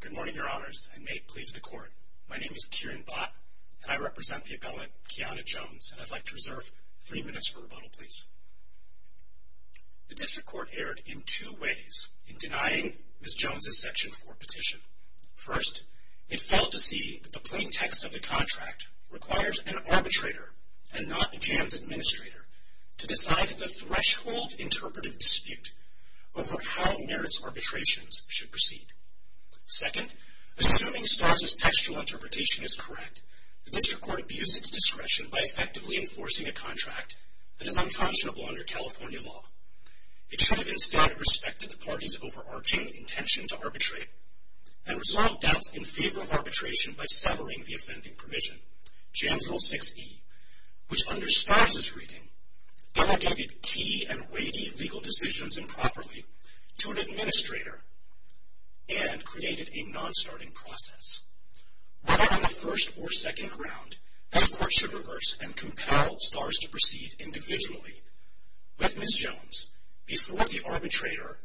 Good morning, Your Honors, and may it please the Court, my name is Kieran Bott, and I represent the appellant, Kiana Jones, and I'd like to reserve three minutes for rebuttal, please. The District Court erred in two ways in denying Ms. Jones's Section 4 petition. First, it failed to see that the plain text of the contract requires an arbitrator, and not a jams administrator, to decide in a threshold interpretive dispute over how merits arbitrations should proceed. Second, assuming Starz's textual interpretation is correct, the District Court abused its discretion by effectively enforcing a contract that is unconscionable under California law. It should have instilled respect to the party's overarching intention to arbitrate, and resolved doubts in favor of arbitration by severing the offending provision, Jam Rule 6E, which under Starz's reading, delegated key and weighty legal decisions improperly to an administrator, and created a non-starting process. Whether on the first or second round, this Court should reverse and compel Starz to proceed individually with Ms. Jones before the arbitrator,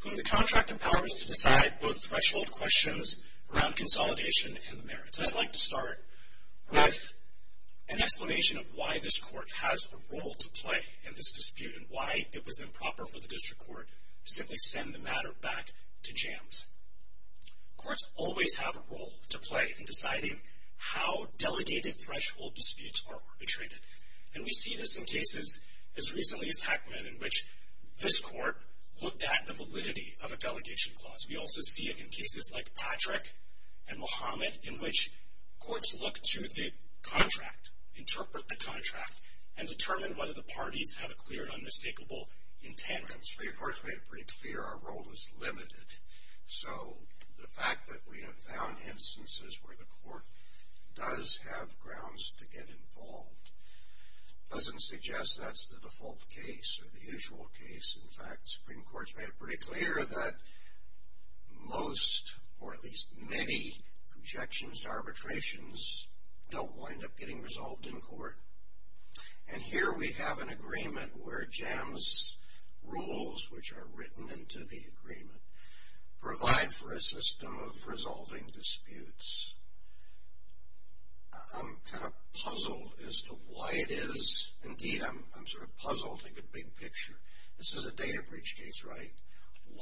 whom the contract empowers to decide both threshold questions around consolidation and the merits. Today I'd like to start with an explanation of why this Court has a role to play in this dispute, and why it was improper for the District Court to simply send the matter back to jams. Courts always have a role to play in deciding how delegated threshold disputes are arbitrated, and we see this in cases as recently as Hackman, in which this Court looked at the validity of a delegation clause. We also see it in cases like Patrick and Muhammad, in which courts look to the contract, interpret the contract, and determine whether the parties have a clear and unmistakable intent. Supreme Court's made it pretty clear our role is limited, so the fact that we have found instances where the Court does have grounds to get involved doesn't suggest that's the default case, or the usual case. In fact, Supreme Court's made it pretty clear that most, or at least many, objections to arbitrations don't wind up getting resolved in court. And here we have an agreement where jams' rules, which are written into the agreement, provide for a system of resolving disputes. I'm kind of puzzled as to why it is. Indeed, I'm sort of puzzled, like a big picture. This is a data breach case, right?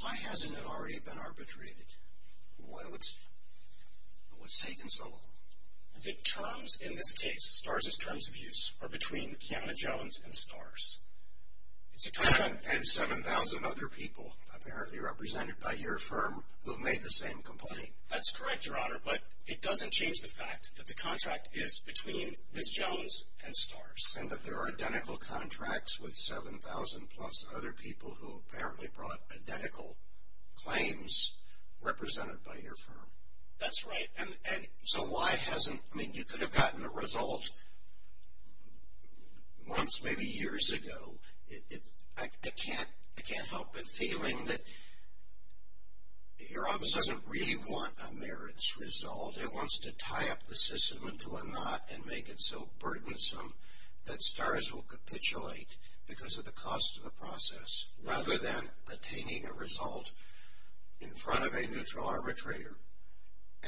Why hasn't it already been arbitrated? Why would, what's taking so long? The terms in this case, STARS' terms of use, are between Kiana Jones and STARS. And 7,000 other people, apparently represented by your firm, who have made the same complaint. That's correct, Your Honor, but it doesn't change the fact that the contract is between Ms. Jones and STARS. And that there are identical contracts with 7,000 plus other people who apparently brought identical claims represented by your firm. That's right. And so why hasn't, I mean, you could have gotten a result months, maybe years ago. I can't help but feeling that your office doesn't really want a merits result. It wants to tie up the system into a knot and make it so burdensome that STARS will capitulate because of the cost of the process, rather than attaining a result in front of a neutral arbitrator,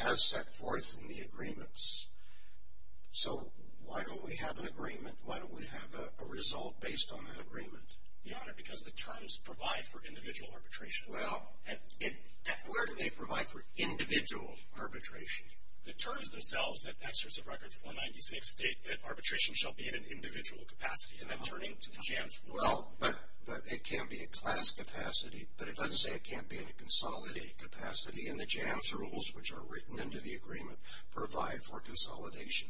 as set forth in the agreements. So why don't we have an agreement? Why don't we have a result based on that agreement? Your Honor, because the terms provide for individual arbitration. Well, where do they provide for individual arbitration? The terms themselves in Excerpts of Record 496 state that arbitration shall be in an individual capacity, and then turning to the JAMS rules. Well, but it can be a class capacity, but it doesn't say it can't be in a consolidated capacity. And the JAMS rules, which are written into the agreement, provide for consolidation.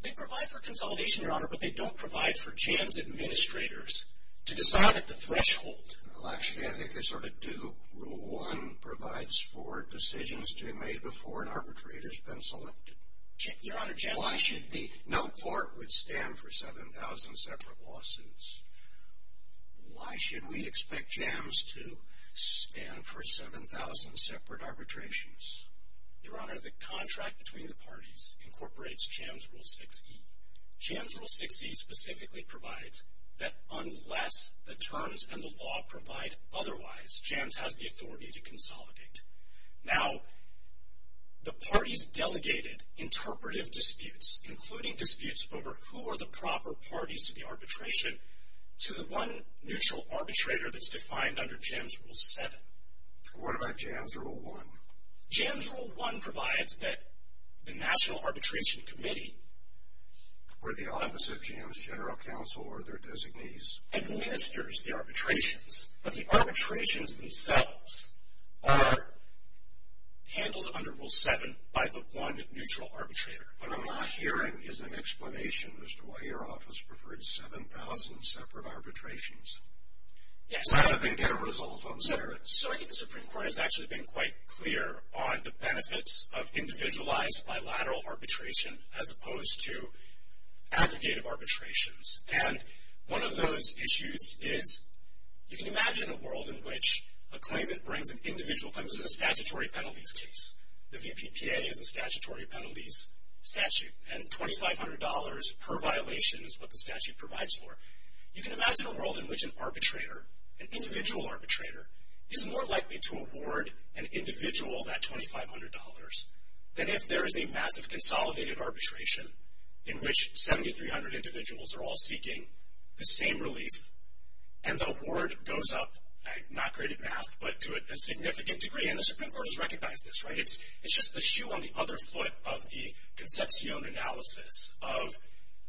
They provide for consolidation, Your Honor, but they don't provide for JAMS administrators to decide at the threshold. Well, actually, I think they sort of do. Rule 1 provides for decisions to be made before an arbitrator has been selected. Your Honor, JAMS. Why should the, no court would stand for 7,000 separate lawsuits. Why should we expect JAMS to stand for 7,000 separate arbitrations? Your Honor, the contract between the parties incorporates JAMS Rule 6e. JAMS Rule 6e specifically provides that unless the terms and the law provide otherwise, JAMS has the authority to consolidate. Now, the parties delegated interpretive disputes, including disputes over who are the proper parties to the arbitration, to the one neutral arbitrator that's defined under JAMS Rule 7. What about JAMS Rule 1? JAMS Rule 1 provides that the National Arbitration Committee. Where the Office of JAMS General Counsel are their designees. Administers the arbitrations, but the arbitrations themselves are handled under Rule 7 by the one neutral arbitrator. What I'm not hearing is an explanation as to why your office preferred 7,000 separate arbitrations. Yes. Rather than get a result on the merits. So I think the Supreme Court has actually been quite clear on the benefits of individualized bilateral arbitration as opposed to aggregative arbitrations. And one of those issues is you can imagine a world in which a claimant brings an individual claimant. This is a statutory penalties case. The VPPA is a statutory penalties statute. And $2,500 per violation is what the statute provides for. You can imagine a world in which an arbitrator, an individual arbitrator, is more likely to award an individual that $2,500 than if there is a massive consolidated arbitration in which 7,300 individuals are all seeking the same relief. And the award goes up, not great at math, but to a significant degree. And the Supreme Court has recognized this, right? It's just a shoe on the other foot of the concepcion analysis of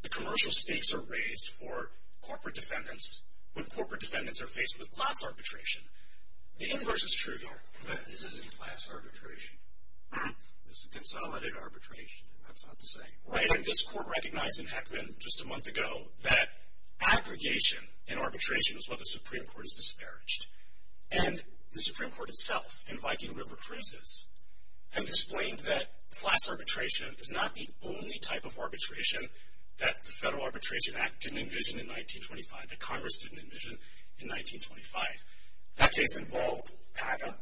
the commercial stakes are raised for corporate defendants when corporate defendants are faced with class arbitration. The inverse is true here. But this isn't class arbitration. This is consolidated arbitration. That's not the same. Right? And this Court recognized in Heckman just a month ago that aggregation in arbitration is what the Supreme Court has disparaged. And the Supreme Court itself, in Viking River Cruises, has explained that class arbitration is not the only type of arbitration that the Federal Arbitration Act didn't envision in 1925, that Congress didn't envision in 1925. That case involved PACA.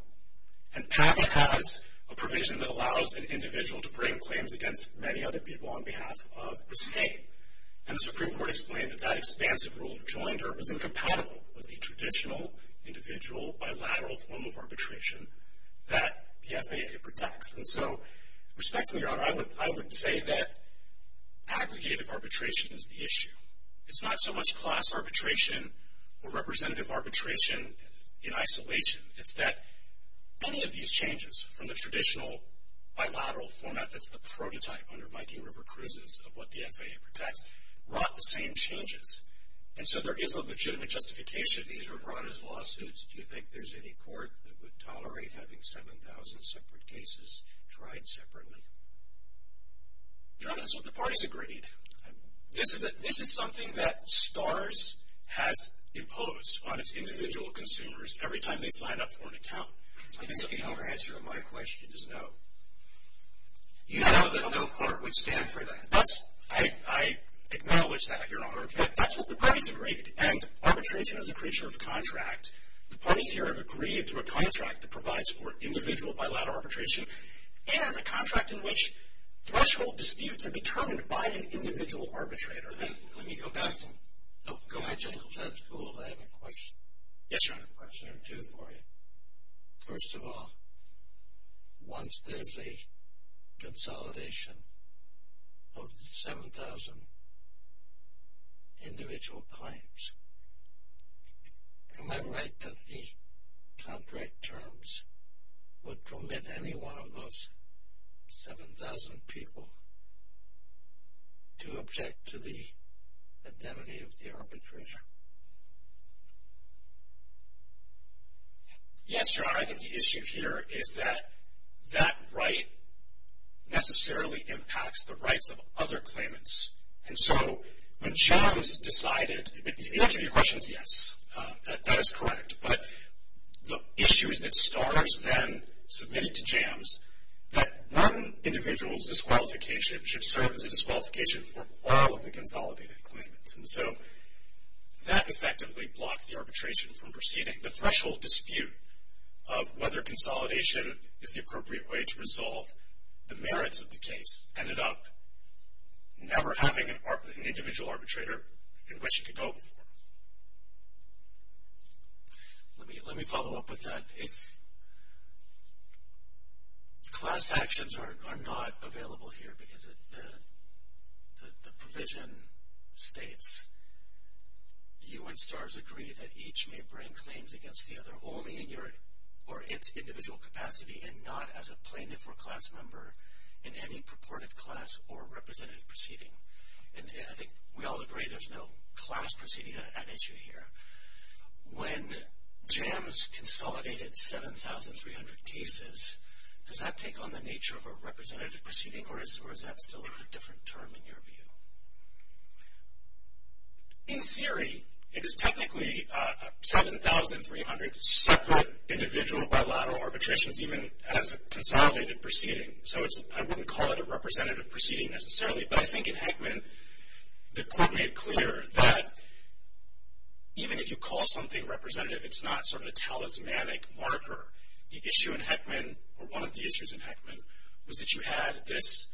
And PACA has a provision that allows an individual to bring claims against many other people on behalf of the state. And the Supreme Court explained that that expansive rule of joinder was incompatible with the traditional individual bilateral form of arbitration that the FAA protects. And so, respectfully, Your Honor, I would say that aggregative arbitration is the issue. It's not so much class arbitration or representative arbitration in isolation. It's that any of these changes from the traditional bilateral format that's the prototype under Viking River Cruises of what the FAA protects brought the same changes. And so there is a legitimate justification. These were brought as lawsuits. Do you think there's any court that would tolerate having 7,000 separate cases tried separately? Your Honor, that's what the parties agreed. This is something that STARS has imposed on its individual consumers every time they sign up for an account. Your answer to my question is no. You know that no court would stand for that. I acknowledge that, Your Honor. That's what the parties agreed. And arbitration is a creature of contract. The parties here have agreed to a contract that provides for individual bilateral arbitration and a contract in which threshold disputes are determined by an individual arbitrator. Let me go back. Go ahead, Judge. That's cool. I have a question. Yes, Your Honor. I have a question or two for you. First of all, once there's a consolidation of 7,000 individual claims, am I right that the contract terms would permit any one of those 7,000 people to object to the identity of the arbitrator? Yes, Your Honor. I think the issue here is that that right necessarily impacts the rights of other claimants. And so when JAMS decided, the answer to your question is yes, that is correct. But the issue is that STARS then submitted to JAMS that one individual's disqualification should serve as a disqualification for all of the consolidated claimants. And so that effectively blocked the arbitration from proceeding. The threshold dispute of whether consolidation is the appropriate way to resolve the merits of the case ended up never having an individual arbitrator in which it could go before. Let me follow up with that. Class actions are not available here because the provision states, you and STARS agree that each may bring claims against the other only in its individual capacity and not as a plaintiff or class member in any purported class or representative proceeding. And I think we all agree there's no class proceeding at issue here. When JAMS consolidated 7,300 cases, does that take on the nature of a representative proceeding or is that still a different term in your view? In theory, it is technically 7,300 separate individual bilateral arbitrations even as a consolidated proceeding. So I wouldn't call it a representative proceeding necessarily. But I think in Heckman, the court made clear that even if you call something representative, it's not sort of a talismanic marker. The issue in Heckman, or one of the issues in Heckman, was that you had this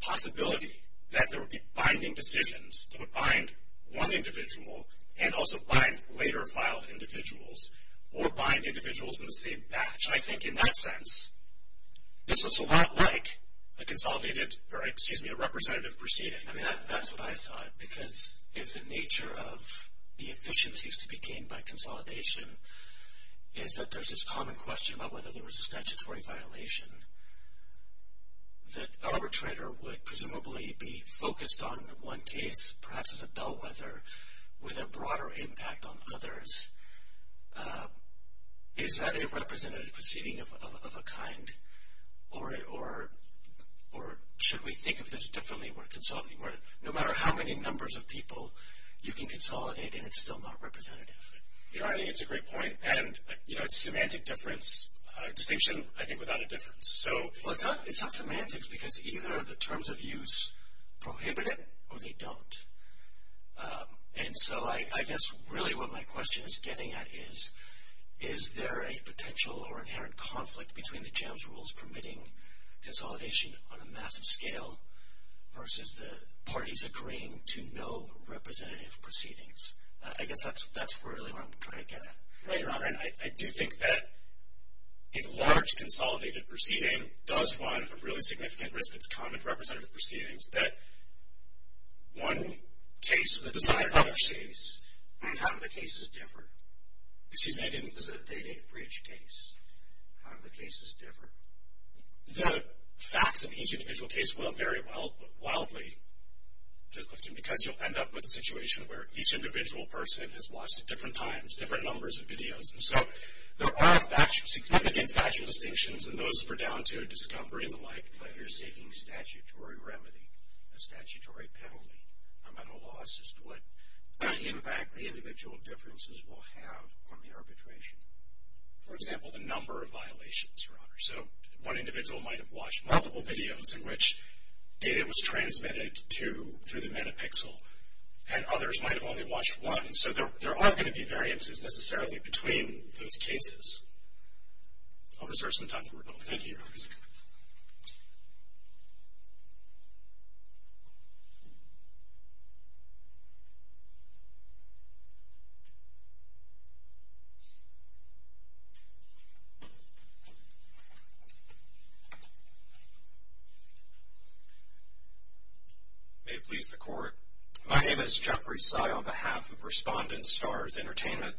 possibility that there would be binding decisions that would bind one individual and also bind later filed individuals or bind individuals in the same batch. Which I think in that sense, this looks a lot like a consolidated, or excuse me, a representative proceeding. I mean, that's what I thought. Because if the nature of the efficiencies to be gained by consolidation is that there's this common question about whether there was a statutory violation, that arbitrator would presumably be focused on one case, perhaps as a bellwether, with a broader impact on others. Is that a representative proceeding of a kind? Or should we think of this differently? No matter how many numbers of people, you can consolidate and it's still not representative. I think it's a great point. And it's a semantic difference, a distinction, I think, without a difference. Well, it's not semantics because either the terms of use prohibit it or they don't. And so I guess really what my question is getting at is, is there a potential or inherent conflict between the JAMS rules permitting consolidation on a massive scale versus the parties agreeing to no representative proceedings? I guess that's really what I'm trying to get at. Right, Robert. I do think that a large consolidated proceeding does run a really significant risk. It's common for representative proceedings that one case will decide another case. And how do the cases differ? This is a day-to-day breach case. How do the cases differ? The facts of each individual case will vary wildly, because you'll end up with a situation where each individual person has watched it different times, different numbers of videos. And so there are significant factual distinctions and those for down-to-discovery and the like. But you're seeking statutory remedy, a statutory penalty. I'm at a loss as to what impact the individual differences will have on the arbitration. For example, the number of violations, Your Honor. So one individual might have watched multiple videos in which data was transmitted through the Metapixel, and others might have only watched one. So there are going to be variances necessarily between those cases. I'll reserve some time for rebuttal. Thank you, Your Honor. May it please the Court. My name is Jeffrey Sy on behalf of Respondent Stars Entertainment.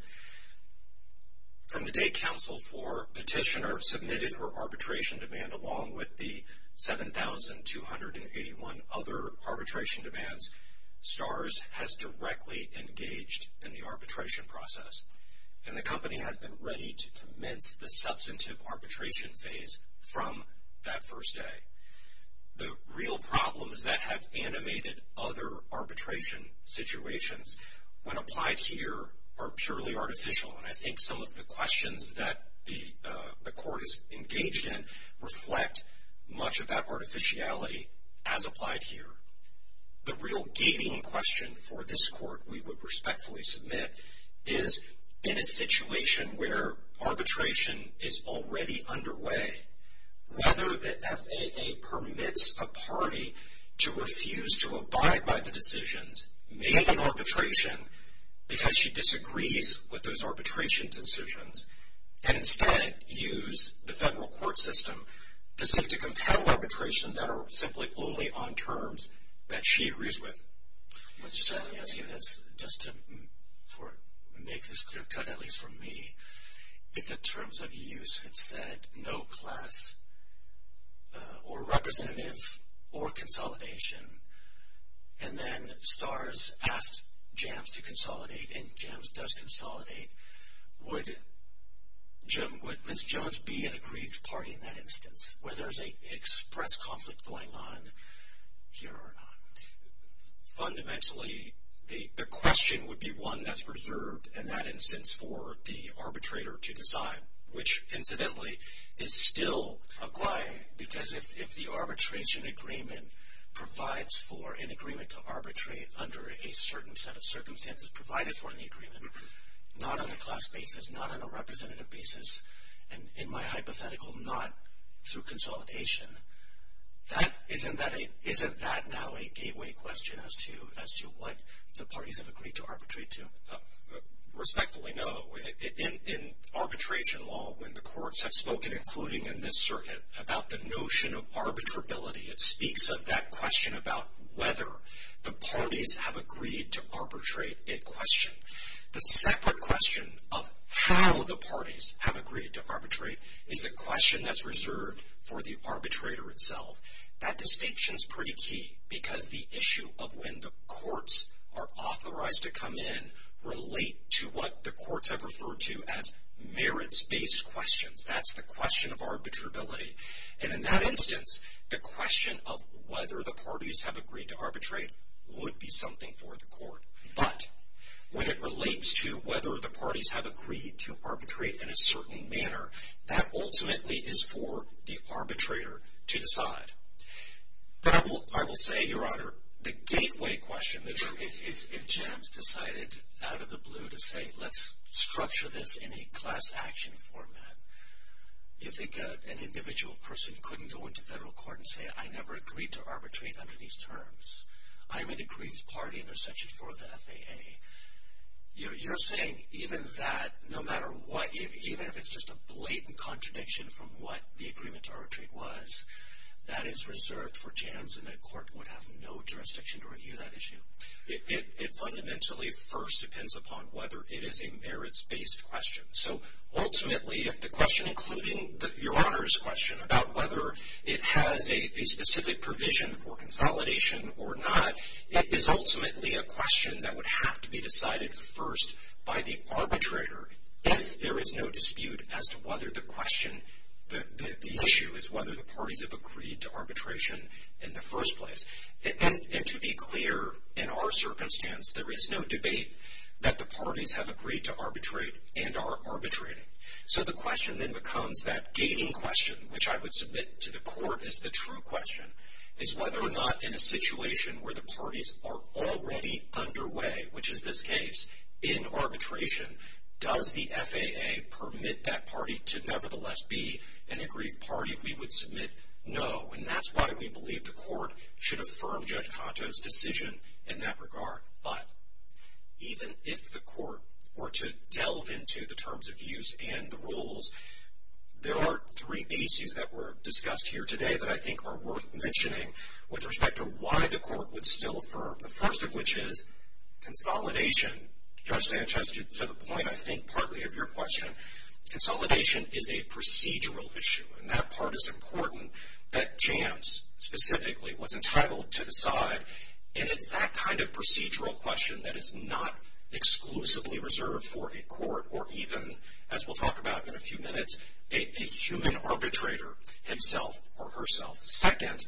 From the day counsel for petitioner submitted her arbitration demand, along with the 7,281 other arbitration demands, Stars has directly engaged in the arbitration process. And the company has been ready to commence the substantive arbitration phase from that first day. The real problem is that have animated other arbitration situations. When applied here are purely artificial. And I think some of the questions that the Court is engaged in reflect much of that artificiality as applied here. The real gating question for this Court, we would respectfully submit, is in a situation where arbitration is already underway, whether the FAA permits a party to refuse to abide by the decisions made in arbitration because she disagrees with those arbitration decisions and instead use the federal court system to seek to compel arbitration that are simply only on terms that she agrees with. Mr. Sy, let me ask you this just to make this clear cut, at least for me. If the terms of use had said no class or representative or consolidation and then Stars asked Jams to consolidate and Jams does consolidate, would Ms. Jones be an aggrieved party in that instance where there's an express conflict going on here or not? Fundamentally, the question would be one that's reserved in that instance for the arbitrator to decide, which incidentally is still acquired because if the arbitration agreement provides for an agreement to arbitrate under a certain set of circumstances provided for in the agreement, not on a class basis, not on a representative basis, and in my hypothetical, not through consolidation, isn't that now a gateway question as to what the parties have agreed to arbitrate to? Respectfully, no. In arbitration law, when the courts have spoken, including in this circuit, about the notion of arbitrability, it speaks of that question about whether the parties have agreed to arbitrate a question. The separate question of how the parties have agreed to arbitrate is a question that's reserved for the arbitrator itself. That distinction is pretty key because the issue of when the courts are authorized to come in relate to what the courts have referred to as merits-based questions. That's the question of arbitrability. In that instance, the question of whether the parties have agreed to arbitrate would be something for the court. But when it relates to whether the parties have agreed to arbitrate in a certain manner, that ultimately is for the arbitrator to decide. But I will say, Your Honor, the gateway question, if James decided out of the blue to say, let's structure this in a class action format, if an individual person couldn't go into federal court and say, I never agreed to arbitrate under these terms, I'm an aggrieved party under Section 4 of the FAA, you're saying even that, no matter what, even if it's just a blatant contradiction from what the agreement to arbitrate was, that is reserved for James and the court would have no jurisdiction to review that issue? It fundamentally first depends upon whether it is a merits-based question. Ultimately, if the question, including Your Honor's question, about whether it has a specific provision for consolidation or not, it is ultimately a question that would have to be decided first by the arbitrator if there is no dispute as to whether the question, the issue, is whether the parties have agreed to arbitration in the first place. And to be clear, in our circumstance, there is no debate that the parties have agreed to arbitrate and are arbitrating. So the question then becomes that gating question, which I would submit to the court as the true question, is whether or not in a situation where the parties are already underway, which is this case, in arbitration, does the FAA permit that party to nevertheless be an aggrieved party? We would submit no, and that's why we believe the court should affirm Judge Canto's decision in that regard. But even if the court were to delve into the terms of use and the rules, there are three issues that were discussed here today that I think are worth mentioning with respect to why the court would still affirm, the first of which is consolidation. Judge Sanchez, to the point, I think, partly of your question, consolidation is a procedural issue, and that part is important that Jams specifically was entitled to decide, and it's that kind of procedural question that is not exclusively reserved for a court or even, as we'll talk about in a few minutes, a human arbitrator himself or herself. Second,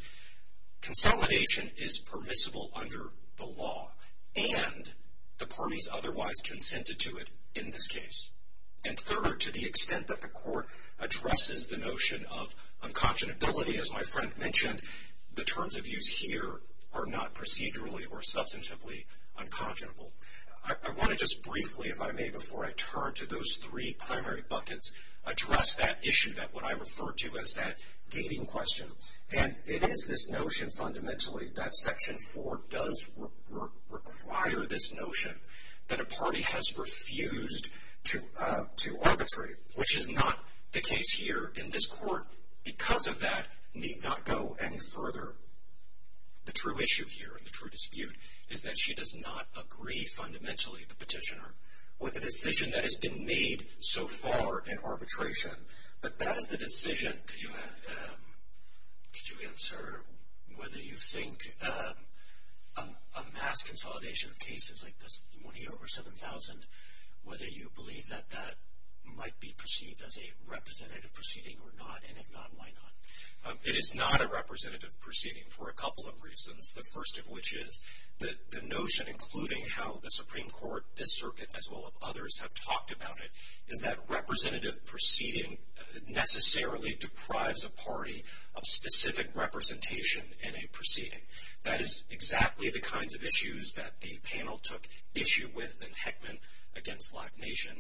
consolidation is permissible under the law, and the parties otherwise consented to it in this case. And third, to the extent that the court addresses the notion of unconscionability, as my friend mentioned, the terms of use here are not procedurally or substantively unconscionable. I want to just briefly, if I may, before I turn to those three primary buckets, address that issue that I referred to as that gating question. And it is this notion fundamentally that Section 4 does require this notion, that a party has refused to arbitrate, which is not the case here. In this court, because of that, need not go any further. The true issue here and the true dispute is that she does not agree fundamentally, the petitioner, with the decision that has been made so far in arbitration. But that is the decision. Could you answer whether you think a mass consolidation of cases like this, the money over $7,000, whether you believe that that might be perceived as a representative proceeding or not, and if not, why not? It is not a representative proceeding for a couple of reasons. The first of which is that the notion, including how the Supreme Court, this circuit, as well as others have talked about it, is that representative proceeding necessarily deprives a party of specific representation in a proceeding. That is exactly the kinds of issues that the panel took issue with in Heckman against Lack Nation.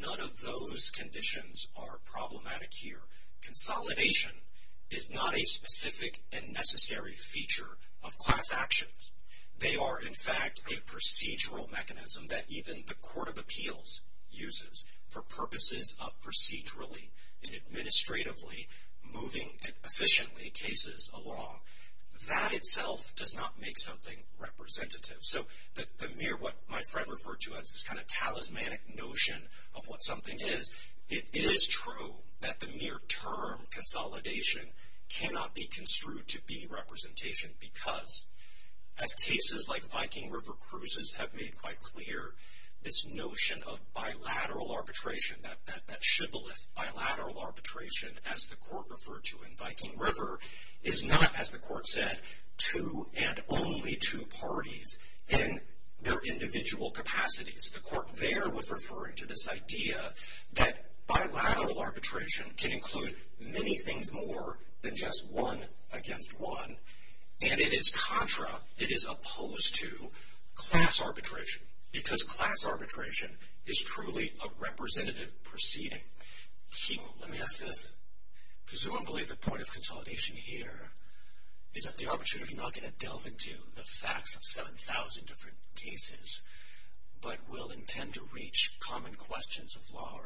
None of those conditions are problematic here. Consolidation is not a specific and necessary feature of class actions. They are, in fact, a procedural mechanism that even the Court of Appeals uses for purposes of procedurally and administratively moving efficiently cases along. That itself does not make something representative. So the mere what my friend referred to as this kind of talismanic notion of what something is, it is true that the mere term consolidation cannot be construed to be representation because, as cases like Viking River Cruises have made quite clear, this notion of bilateral arbitration, that shibboleth bilateral arbitration, as the Court referred to in Viking River, is not, as the Court said, two and only two parties in their individual capacities. The Court there was referring to this idea that bilateral arbitration can include many things more than just one against one, and it is contra, it is opposed to, class arbitration because class arbitration is truly a representative proceeding. Let me ask this because I don't believe the point of consolidation here is that the arbitrator is not going to delve into the facts of 7,000 different cases, but will intend to reach common questions of law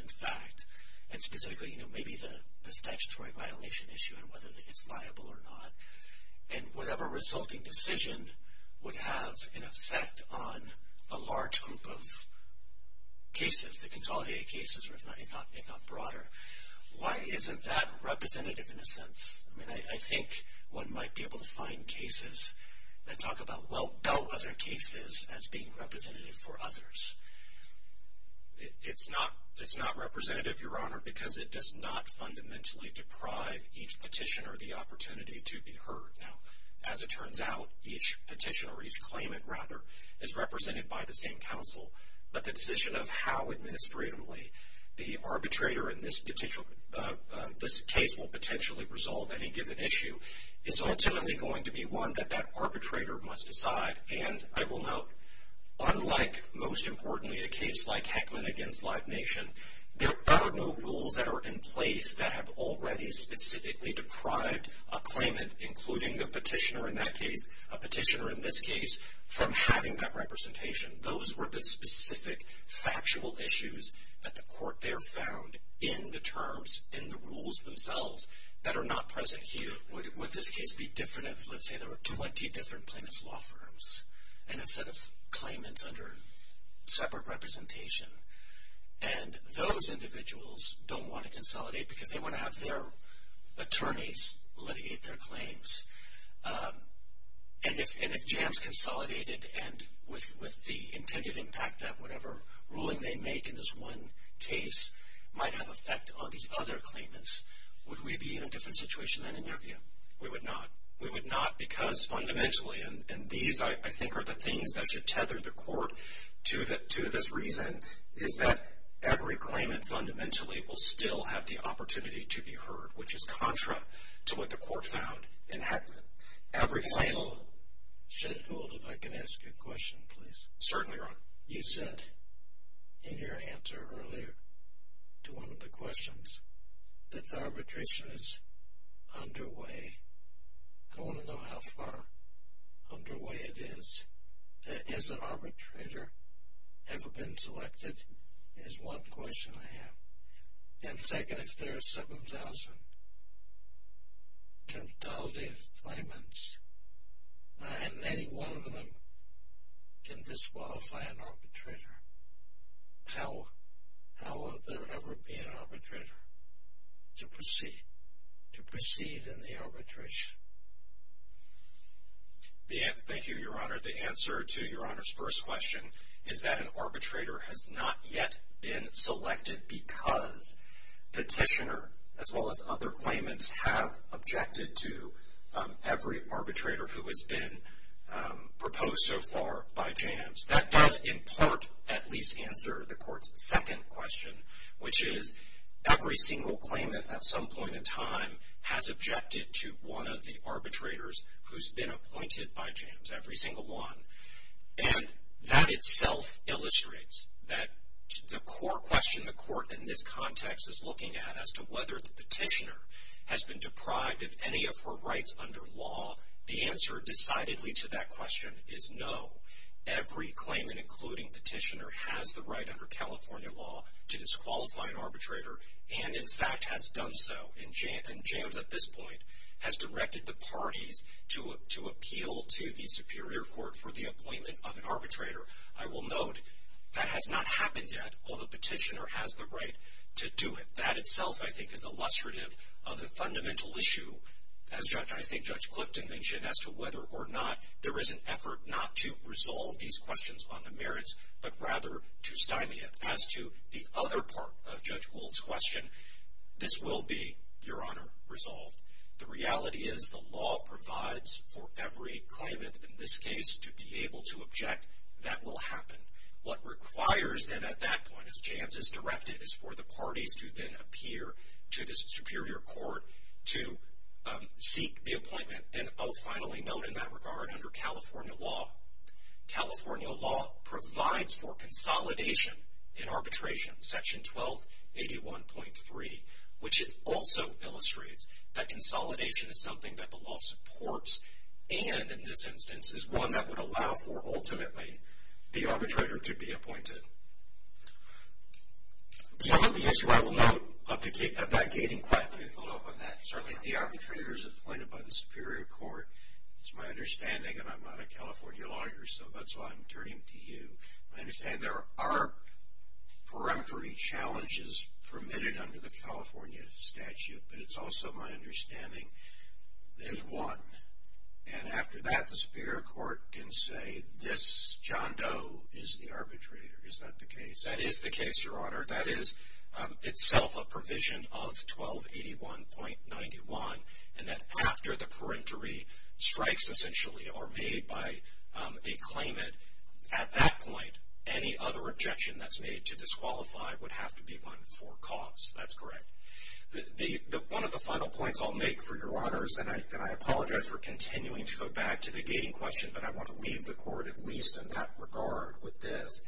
and fact, and specifically maybe the statutory violation issue and whether it's liable or not, and whatever resulting decision would have an effect on a large group of cases, the consolidated cases, if not broader. Why isn't that representative in a sense? I mean, I think one might be able to find cases that talk about, well, no other cases as being representative for others. It's not representative, Your Honor, because it does not fundamentally deprive each petitioner the opportunity to be heard. Now, as it turns out, each petitioner, each claimant, rather, is represented by the same counsel, but the decision of how administratively the arbitrator in this case will potentially resolve any given issue is ultimately going to be one that that arbitrator must decide. And I will note, unlike, most importantly, a case like Heckman against Live Nation, there are no rules that are in place that have already specifically deprived a claimant, including a petitioner in that case, a petitioner in this case, from having that representation. Those were the specific factual issues that the court there found in the terms, in the rules themselves, that are not present here. Would this case be different if, let's say, there were 20 different plaintiff's law firms and a set of claimants under separate representation, and those individuals don't want to consolidate because they want to have their attorneys litigate their claims. And if jams consolidated and with the intended impact that whatever ruling they make in this one case might have effect on these other claimants, would we be in a different situation than in your view? We would not. We would not because fundamentally, and these, I think, are the things that should tether the court to this reason, is that every claimant fundamentally will still have the opportunity to be heard, which is contra to what the court found in Heckman. Every claimant... Judge Gould, if I can ask you a question, please. Certainly, Your Honor. You said in your answer earlier to one of the questions that the arbitration is underway. I want to know how far underway it is. Has an arbitrator ever been selected is one question I have. And second, if there are 7,000 consolidated claimants and any one of them can disqualify an arbitrator, how will there ever be an arbitrator to proceed in the arbitration? Thank you, Your Honor. The answer to Your Honor's first question is that an arbitrator has not yet been selected because petitioner as well as other claimants have objected to every arbitrator who has been proposed so far by JAMS. That does, in part, at least answer the court's second question, which is every single claimant at some point in time has objected to one of the arbitrators who's been appointed by JAMS. Every single one. And that itself illustrates that the core question the court in this context is looking at as to whether the petitioner has been deprived of any of her rights under law, the answer decidedly to that question is no. Every claimant, including petitioner, has the right under California law to disqualify an arbitrator and, in fact, has done so. And JAMS at this point has directed the parties to appeal to the Superior Court for the appointment of an arbitrator. I will note that has not happened yet, although petitioner has the right to do it. That itself, I think, is illustrative of the fundamental issue, as I think Judge Clifton mentioned, as to whether or not there is an effort not to resolve these questions on the merits but rather to stymie it. As to the other part of Judge Gould's question, this will be, Your Honor, resolved. The reality is the law provides for every claimant in this case to be able to object. That will happen. What requires then at that point, as JAMS has directed, is for the parties to then appear to the Superior Court to seek the appointment. And, oh, finally, note in that regard, under California law, California law provides for consolidation in arbitration, Section 1281.3, which it also illustrates that consolidation is something that the law supports and, in this instance, is one that would allow for, ultimately, the arbitrator to be appointed. Some of the issue I will note, I've not gated quite enough on that. Certainly, the arbitrator is appointed by the Superior Court. It's my understanding, and I'm not a California lawyer, so that's why I'm turning to you. I understand there are peremptory challenges permitted under the California statute, but it's also my understanding there's one. And after that, the Superior Court can say this John Doe is the arbitrator. Is that the case? That is the case, Your Honor. That is itself a provision of 1281.91, and that after the peremptory strikes, essentially, are made by a claimant, at that point, any other objection that's made to disqualify would have to be won for cause. That's correct. One of the final points I'll make, for your honors, and I apologize for continuing to go back to the gating question, but I want to leave the Court, at least in that regard, with this.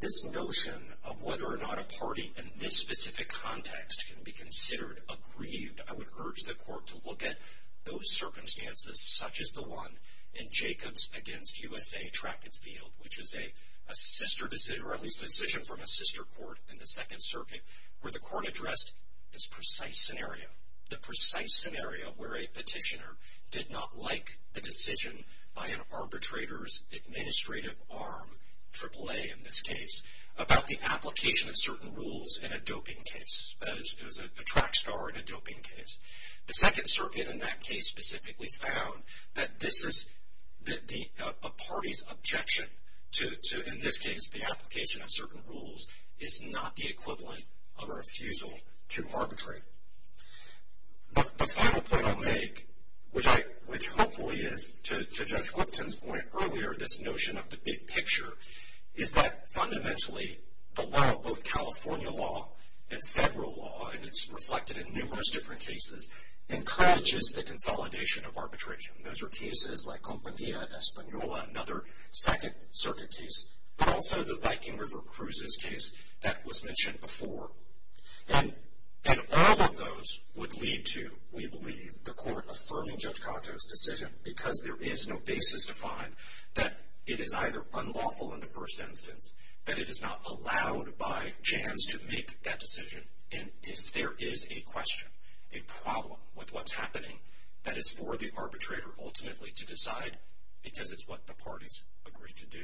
This notion of whether or not a party in this specific context can be considered aggrieved, I would urge the Court to look at those circumstances, such as the one in Jacobs against USA Track and Field, which is a sister decision, or at least a decision from a sister court in the Second Circuit, where the Court addressed this precise scenario, the precise scenario where a petitioner did not like the decision by an arbitrator's administrative arm, AAA in this case, about the application of certain rules in a doping case. It was a track star in a doping case. The Second Circuit, in that case, specifically found that a party's objection to, in this case, the application of certain rules is not the equivalent of a refusal to arbitrate. The final point I'll make, which hopefully is, to Judge Clipton's point earlier, this notion of the big picture, is that, fundamentally, the law, both California law and federal law, and it's reflected in numerous different cases, encourages the consolidation of arbitration. Those are cases like Compañía Española, another Second Circuit case, but also the Viking River Cruises case that was mentioned before. And all of those would lead to, we believe, the Court affirming Judge Cato's decision, because there is no basis to find that it is either unlawful in the first instance, that it is not allowed by JANS to make that decision, and if there is a question, a problem with what's happening, that is for the arbitrator, ultimately, to decide, because it's what the parties agreed to do.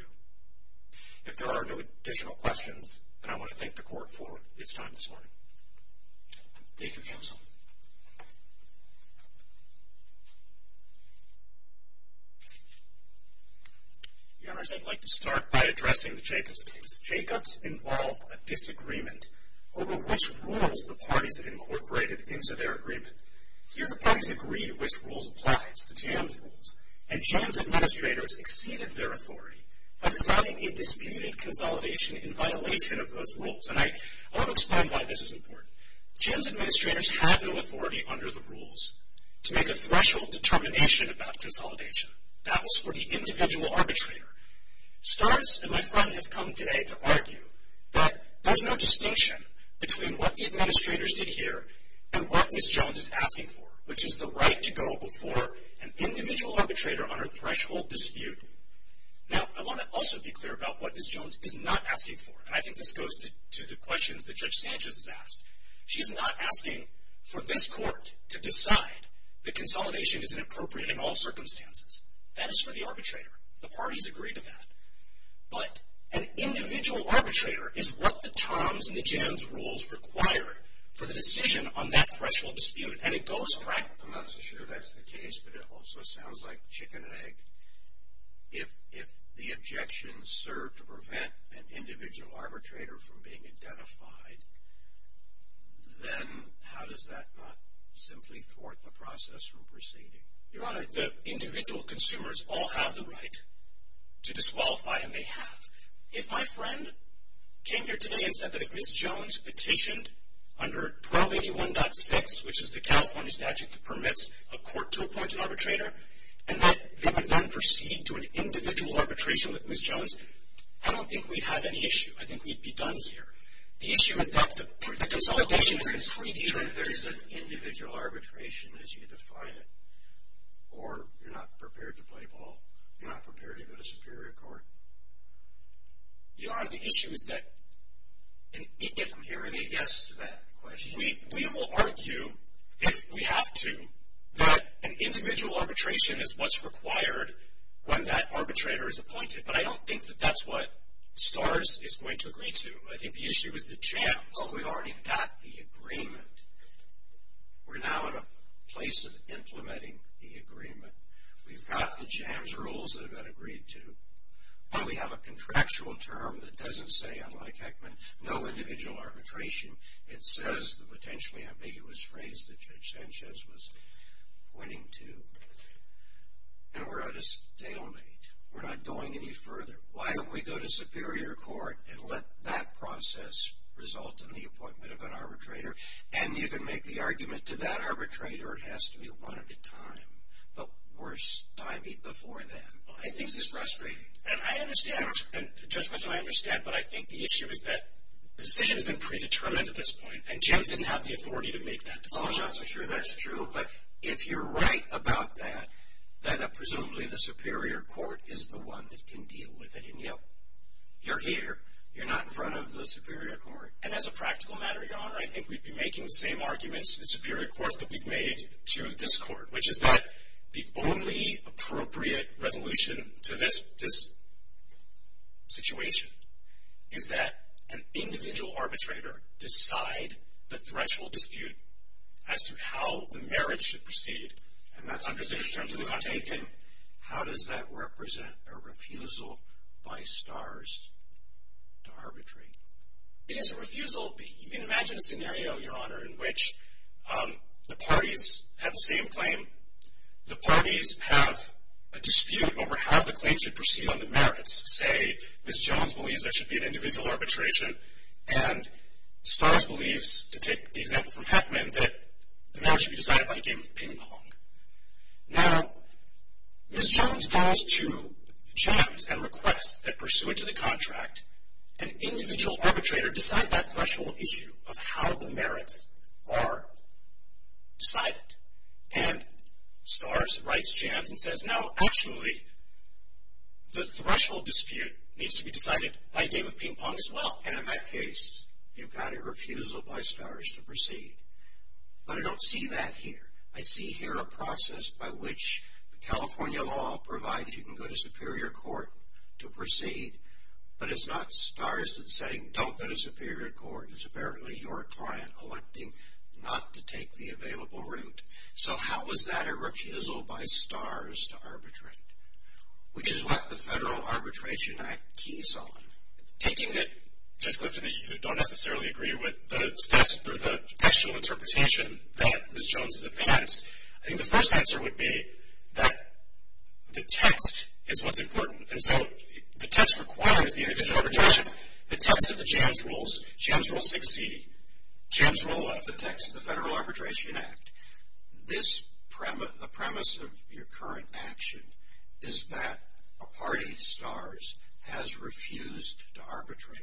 If there are no additional questions, then I want to thank the Court for its time this morning. Thank you, Counsel. The Honors, I'd like to start by addressing the Jacobs case. Jacobs involved a disagreement over which rules the parties had incorporated into their agreement. Here, the parties agreed which rules applied to the JANS rules, and JANS administrators exceeded their authority by deciding a disputed consolidation in violation of those rules. And I'll explain why this is important. JANS administrators had no authority under the rules to make a threshold determination about consolidation. That was for the individual arbitrator. Stars and my friend have come today to argue that there's no distinction between what the administrators did here and what Ms. Jones is asking for, which is the right to go before an individual arbitrator on a threshold dispute. Now, I want to also be clear about what Ms. Jones is not asking for, and I think this goes to the questions that Judge Sanchez has asked. She is not asking for this Court to decide that consolidation is inappropriate in all circumstances. That is for the arbitrator. The parties agreed to that. But an individual arbitrator is what the TOMS and the JANS rules require for the decision on that threshold dispute, and it goes frankly. I'm not so sure that's the case, but it also sounds like chicken and egg. If the objections serve to prevent an individual arbitrator from being identified, then how does that not simply thwart the process from proceeding? Your Honor, the individual consumers all have the right to disqualify, and they have. If my friend came here today and said that if Ms. Jones petitioned under 1281.6, which is the California statute that permits a court to appoint an arbitrator, and that they would then proceed to an individual arbitration with Ms. Jones, I don't think we'd have any issue. I think we'd be done here. The issue is that the consolidation is completely different. So there's an individual arbitration as you define it, or you're not prepared to play ball, you're not prepared to go to superior court? Your Honor, the issue is that if I'm hearing a yes to that question, we will argue, if we have to, that an individual arbitration is what's required when that arbitrator is appointed. But I don't think that that's what STARS is going to agree to. I think the issue is the JAMS. Well, we've already got the agreement. We're now in a place of implementing the agreement. We've got the JAMS rules that have been agreed to, but we have a contractual term that doesn't say, unlike Heckman, no individual arbitration. It says the potentially ambiguous phrase that Judge Sanchez was pointing to. And we're at a stalemate. We're not going any further. Why don't we go to superior court and let that process result in the appointment of an arbitrator? And you can make the argument to that arbitrator. It has to be one at a time. But we're stymied before then. I think it's frustrating. And I understand, and Judge Mitchell, I understand, but I think the issue is that the decision has been predetermined at this point, and JAMS didn't have the authority to make that decision. Oh, that's true. That's true. But if you're right about that, then presumably the superior court is the one that can deal with it. And, yep, you're here. You're not in front of the superior court. And as a practical matter, Your Honor, I think we'd be making the same arguments, the superior court that we've made to this court, which is that the only appropriate resolution to this situation is that an individual arbitrator decide the threshold dispute as to how the marriage should proceed. And that's under the terms of the content. How does that represent a refusal by STARS to arbitrate? It is a refusal. You can imagine a scenario, Your Honor, in which the parties have the same claim. The parties have a dispute over how the claim should proceed on the merits. Say Ms. Jones believes there should be an individual arbitration, and STARS believes, to take the example from Heckman, that the marriage should be decided by a game of ping-pong. Now, Ms. Jones calls to JAMS and requests that pursuant to the contract, an individual arbitrator decide that threshold issue of how the merits are decided. And STARS writes JAMS and says, Now, actually, the threshold dispute needs to be decided by a game of ping-pong as well. And in that case, you've got a refusal by STARS to proceed. But I don't see that here. I see here a process by which the California law provides you can go to superior court to proceed, but it's not STARS that's saying don't go to superior court. It's apparently your client electing not to take the available route. So how is that a refusal by STARS to arbitrate? Which is what the Federal Arbitration Act keys on. Taking it, Judge Clifton, that you don't necessarily agree with the textual interpretation that Ms. Jones has advanced, I think the first answer would be that the text is what's important. And so the text requires the arbitration. The text of the JAMS rules, JAMS rules 6C, JAMS rule 11, the text of the Federal Arbitration Act, the premise of your current action is that a party, STARS, has refused to arbitrate.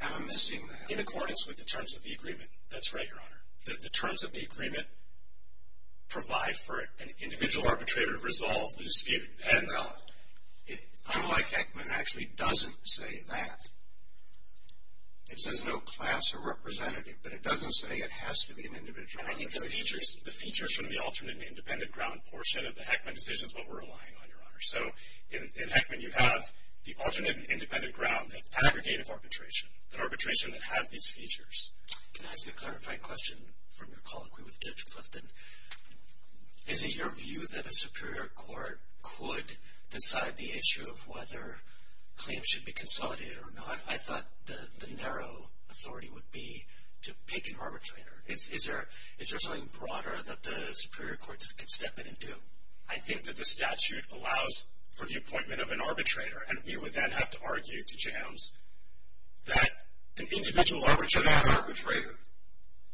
Am I missing that? In accordance with the terms of the agreement. That's right, Your Honor. The terms of the agreement provide for an individual arbitrator to resolve the dispute. I'm like Heckman actually doesn't say that. It says no class or representative, but it doesn't say it has to be an individual arbitrator. I think the features from the alternate and independent ground portion of the Heckman decision is what we're relying on, Your Honor. So in Heckman you have the alternate and independent ground, the aggregate of arbitration, the arbitration that has these features. Can I ask you a clarifying question from your colloquy with Judge Clifton? Is it your view that a superior court could decide the issue of whether claims should be consolidated or not? I thought the narrow authority would be to pick an arbitrator. Is there something broader that the superior courts could step in and do? I think that the statute allows for the appointment of an arbitrator, and we would then have to argue to JAMS that an individual arbitrator. To that arbitrator?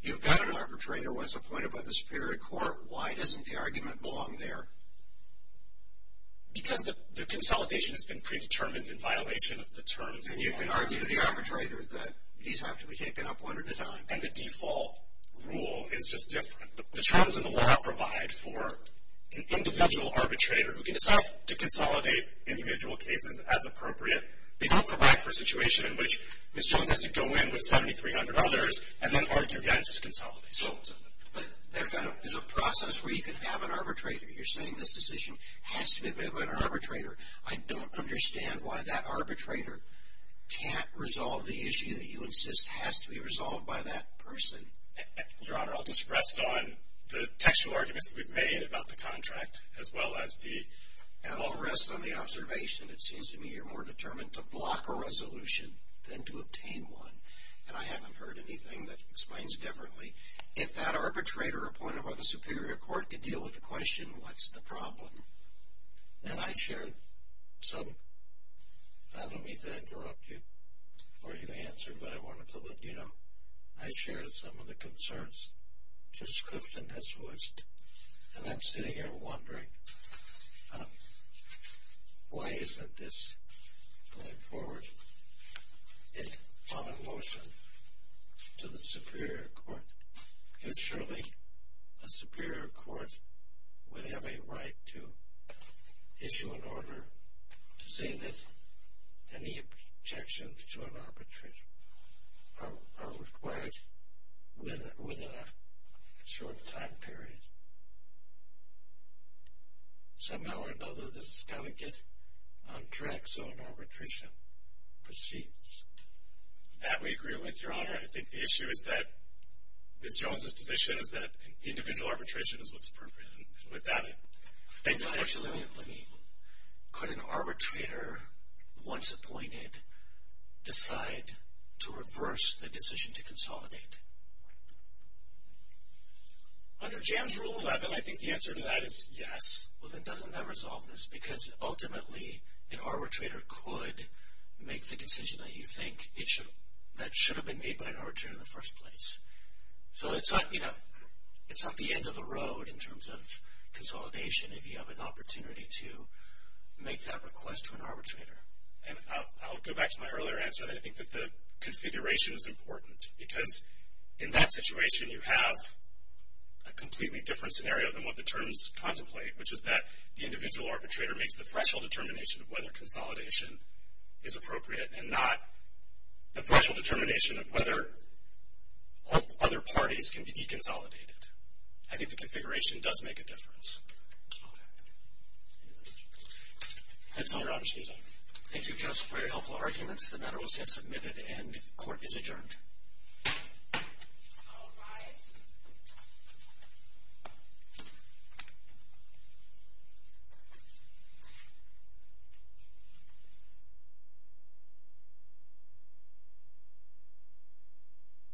You've got an arbitrator once appointed by the superior court. Why doesn't the argument belong there? Because the consolidation has been predetermined in violation of the terms. And you can argue to the arbitrator that these have to be taken up one at a time. And the default rule is just different. The terms of the warrant provide for an individual arbitrator who can decide to consolidate individual cases as appropriate. They don't provide for a situation in which Ms. Jones has to go in with 7,300 others and then argue against consolidations. But there's a process where you can have an arbitrator. You're saying this decision has to be made by an arbitrator. I don't understand why that arbitrator can't resolve the issue that you insist has to be resolved by that person. Your Honor, I'll just rest on the textual arguments that we've made about the contract as well as the— and I'll rest on the observation. It seems to me you're more determined to block a resolution than to obtain one. And I haven't heard anything that explains differently. If that arbitrator appointed by the superior court could deal with the question, what's the problem? And I shared some—I don't mean to interrupt you or even answer, but I wanted to let you know. I shared some of the concerns. Judge Clifton has voiced, and I'm sitting here wondering, why isn't this going forward on a motion to the superior court? Because surely a superior court would have a right to issue an order to say that any objections to an arbitration are required within a short time period. Somehow or another, this has got to get on track so an arbitration proceeds. That we agree with, Your Honor. I think the issue is that Ms. Jones' position is that individual arbitration is what's appropriate. And with that, I thank the court. Actually, let me—could an arbitrator, once appointed, decide to reverse the decision to consolidate? Under JAMS Rule 11, I think the answer to that is yes. Well, then doesn't that resolve this? Because ultimately, an arbitrator could make the decision that you think that should have been made by an arbitrator in the first place. So it's not the end of the road in terms of consolidation if you have an opportunity to make that request to an arbitrator. And I'll go back to my earlier answer. I think that the configuration is important. Because in that situation, you have a completely different scenario than what the terms contemplate, which is that the individual arbitrator makes the threshold determination of whether consolidation is appropriate and not the threshold determination of whether other parties can be deconsolidated. I think the configuration does make a difference. That's all your opportunity. Thank you, counsel, for your helpful arguments. The matter was here submitted, and court is adjourned.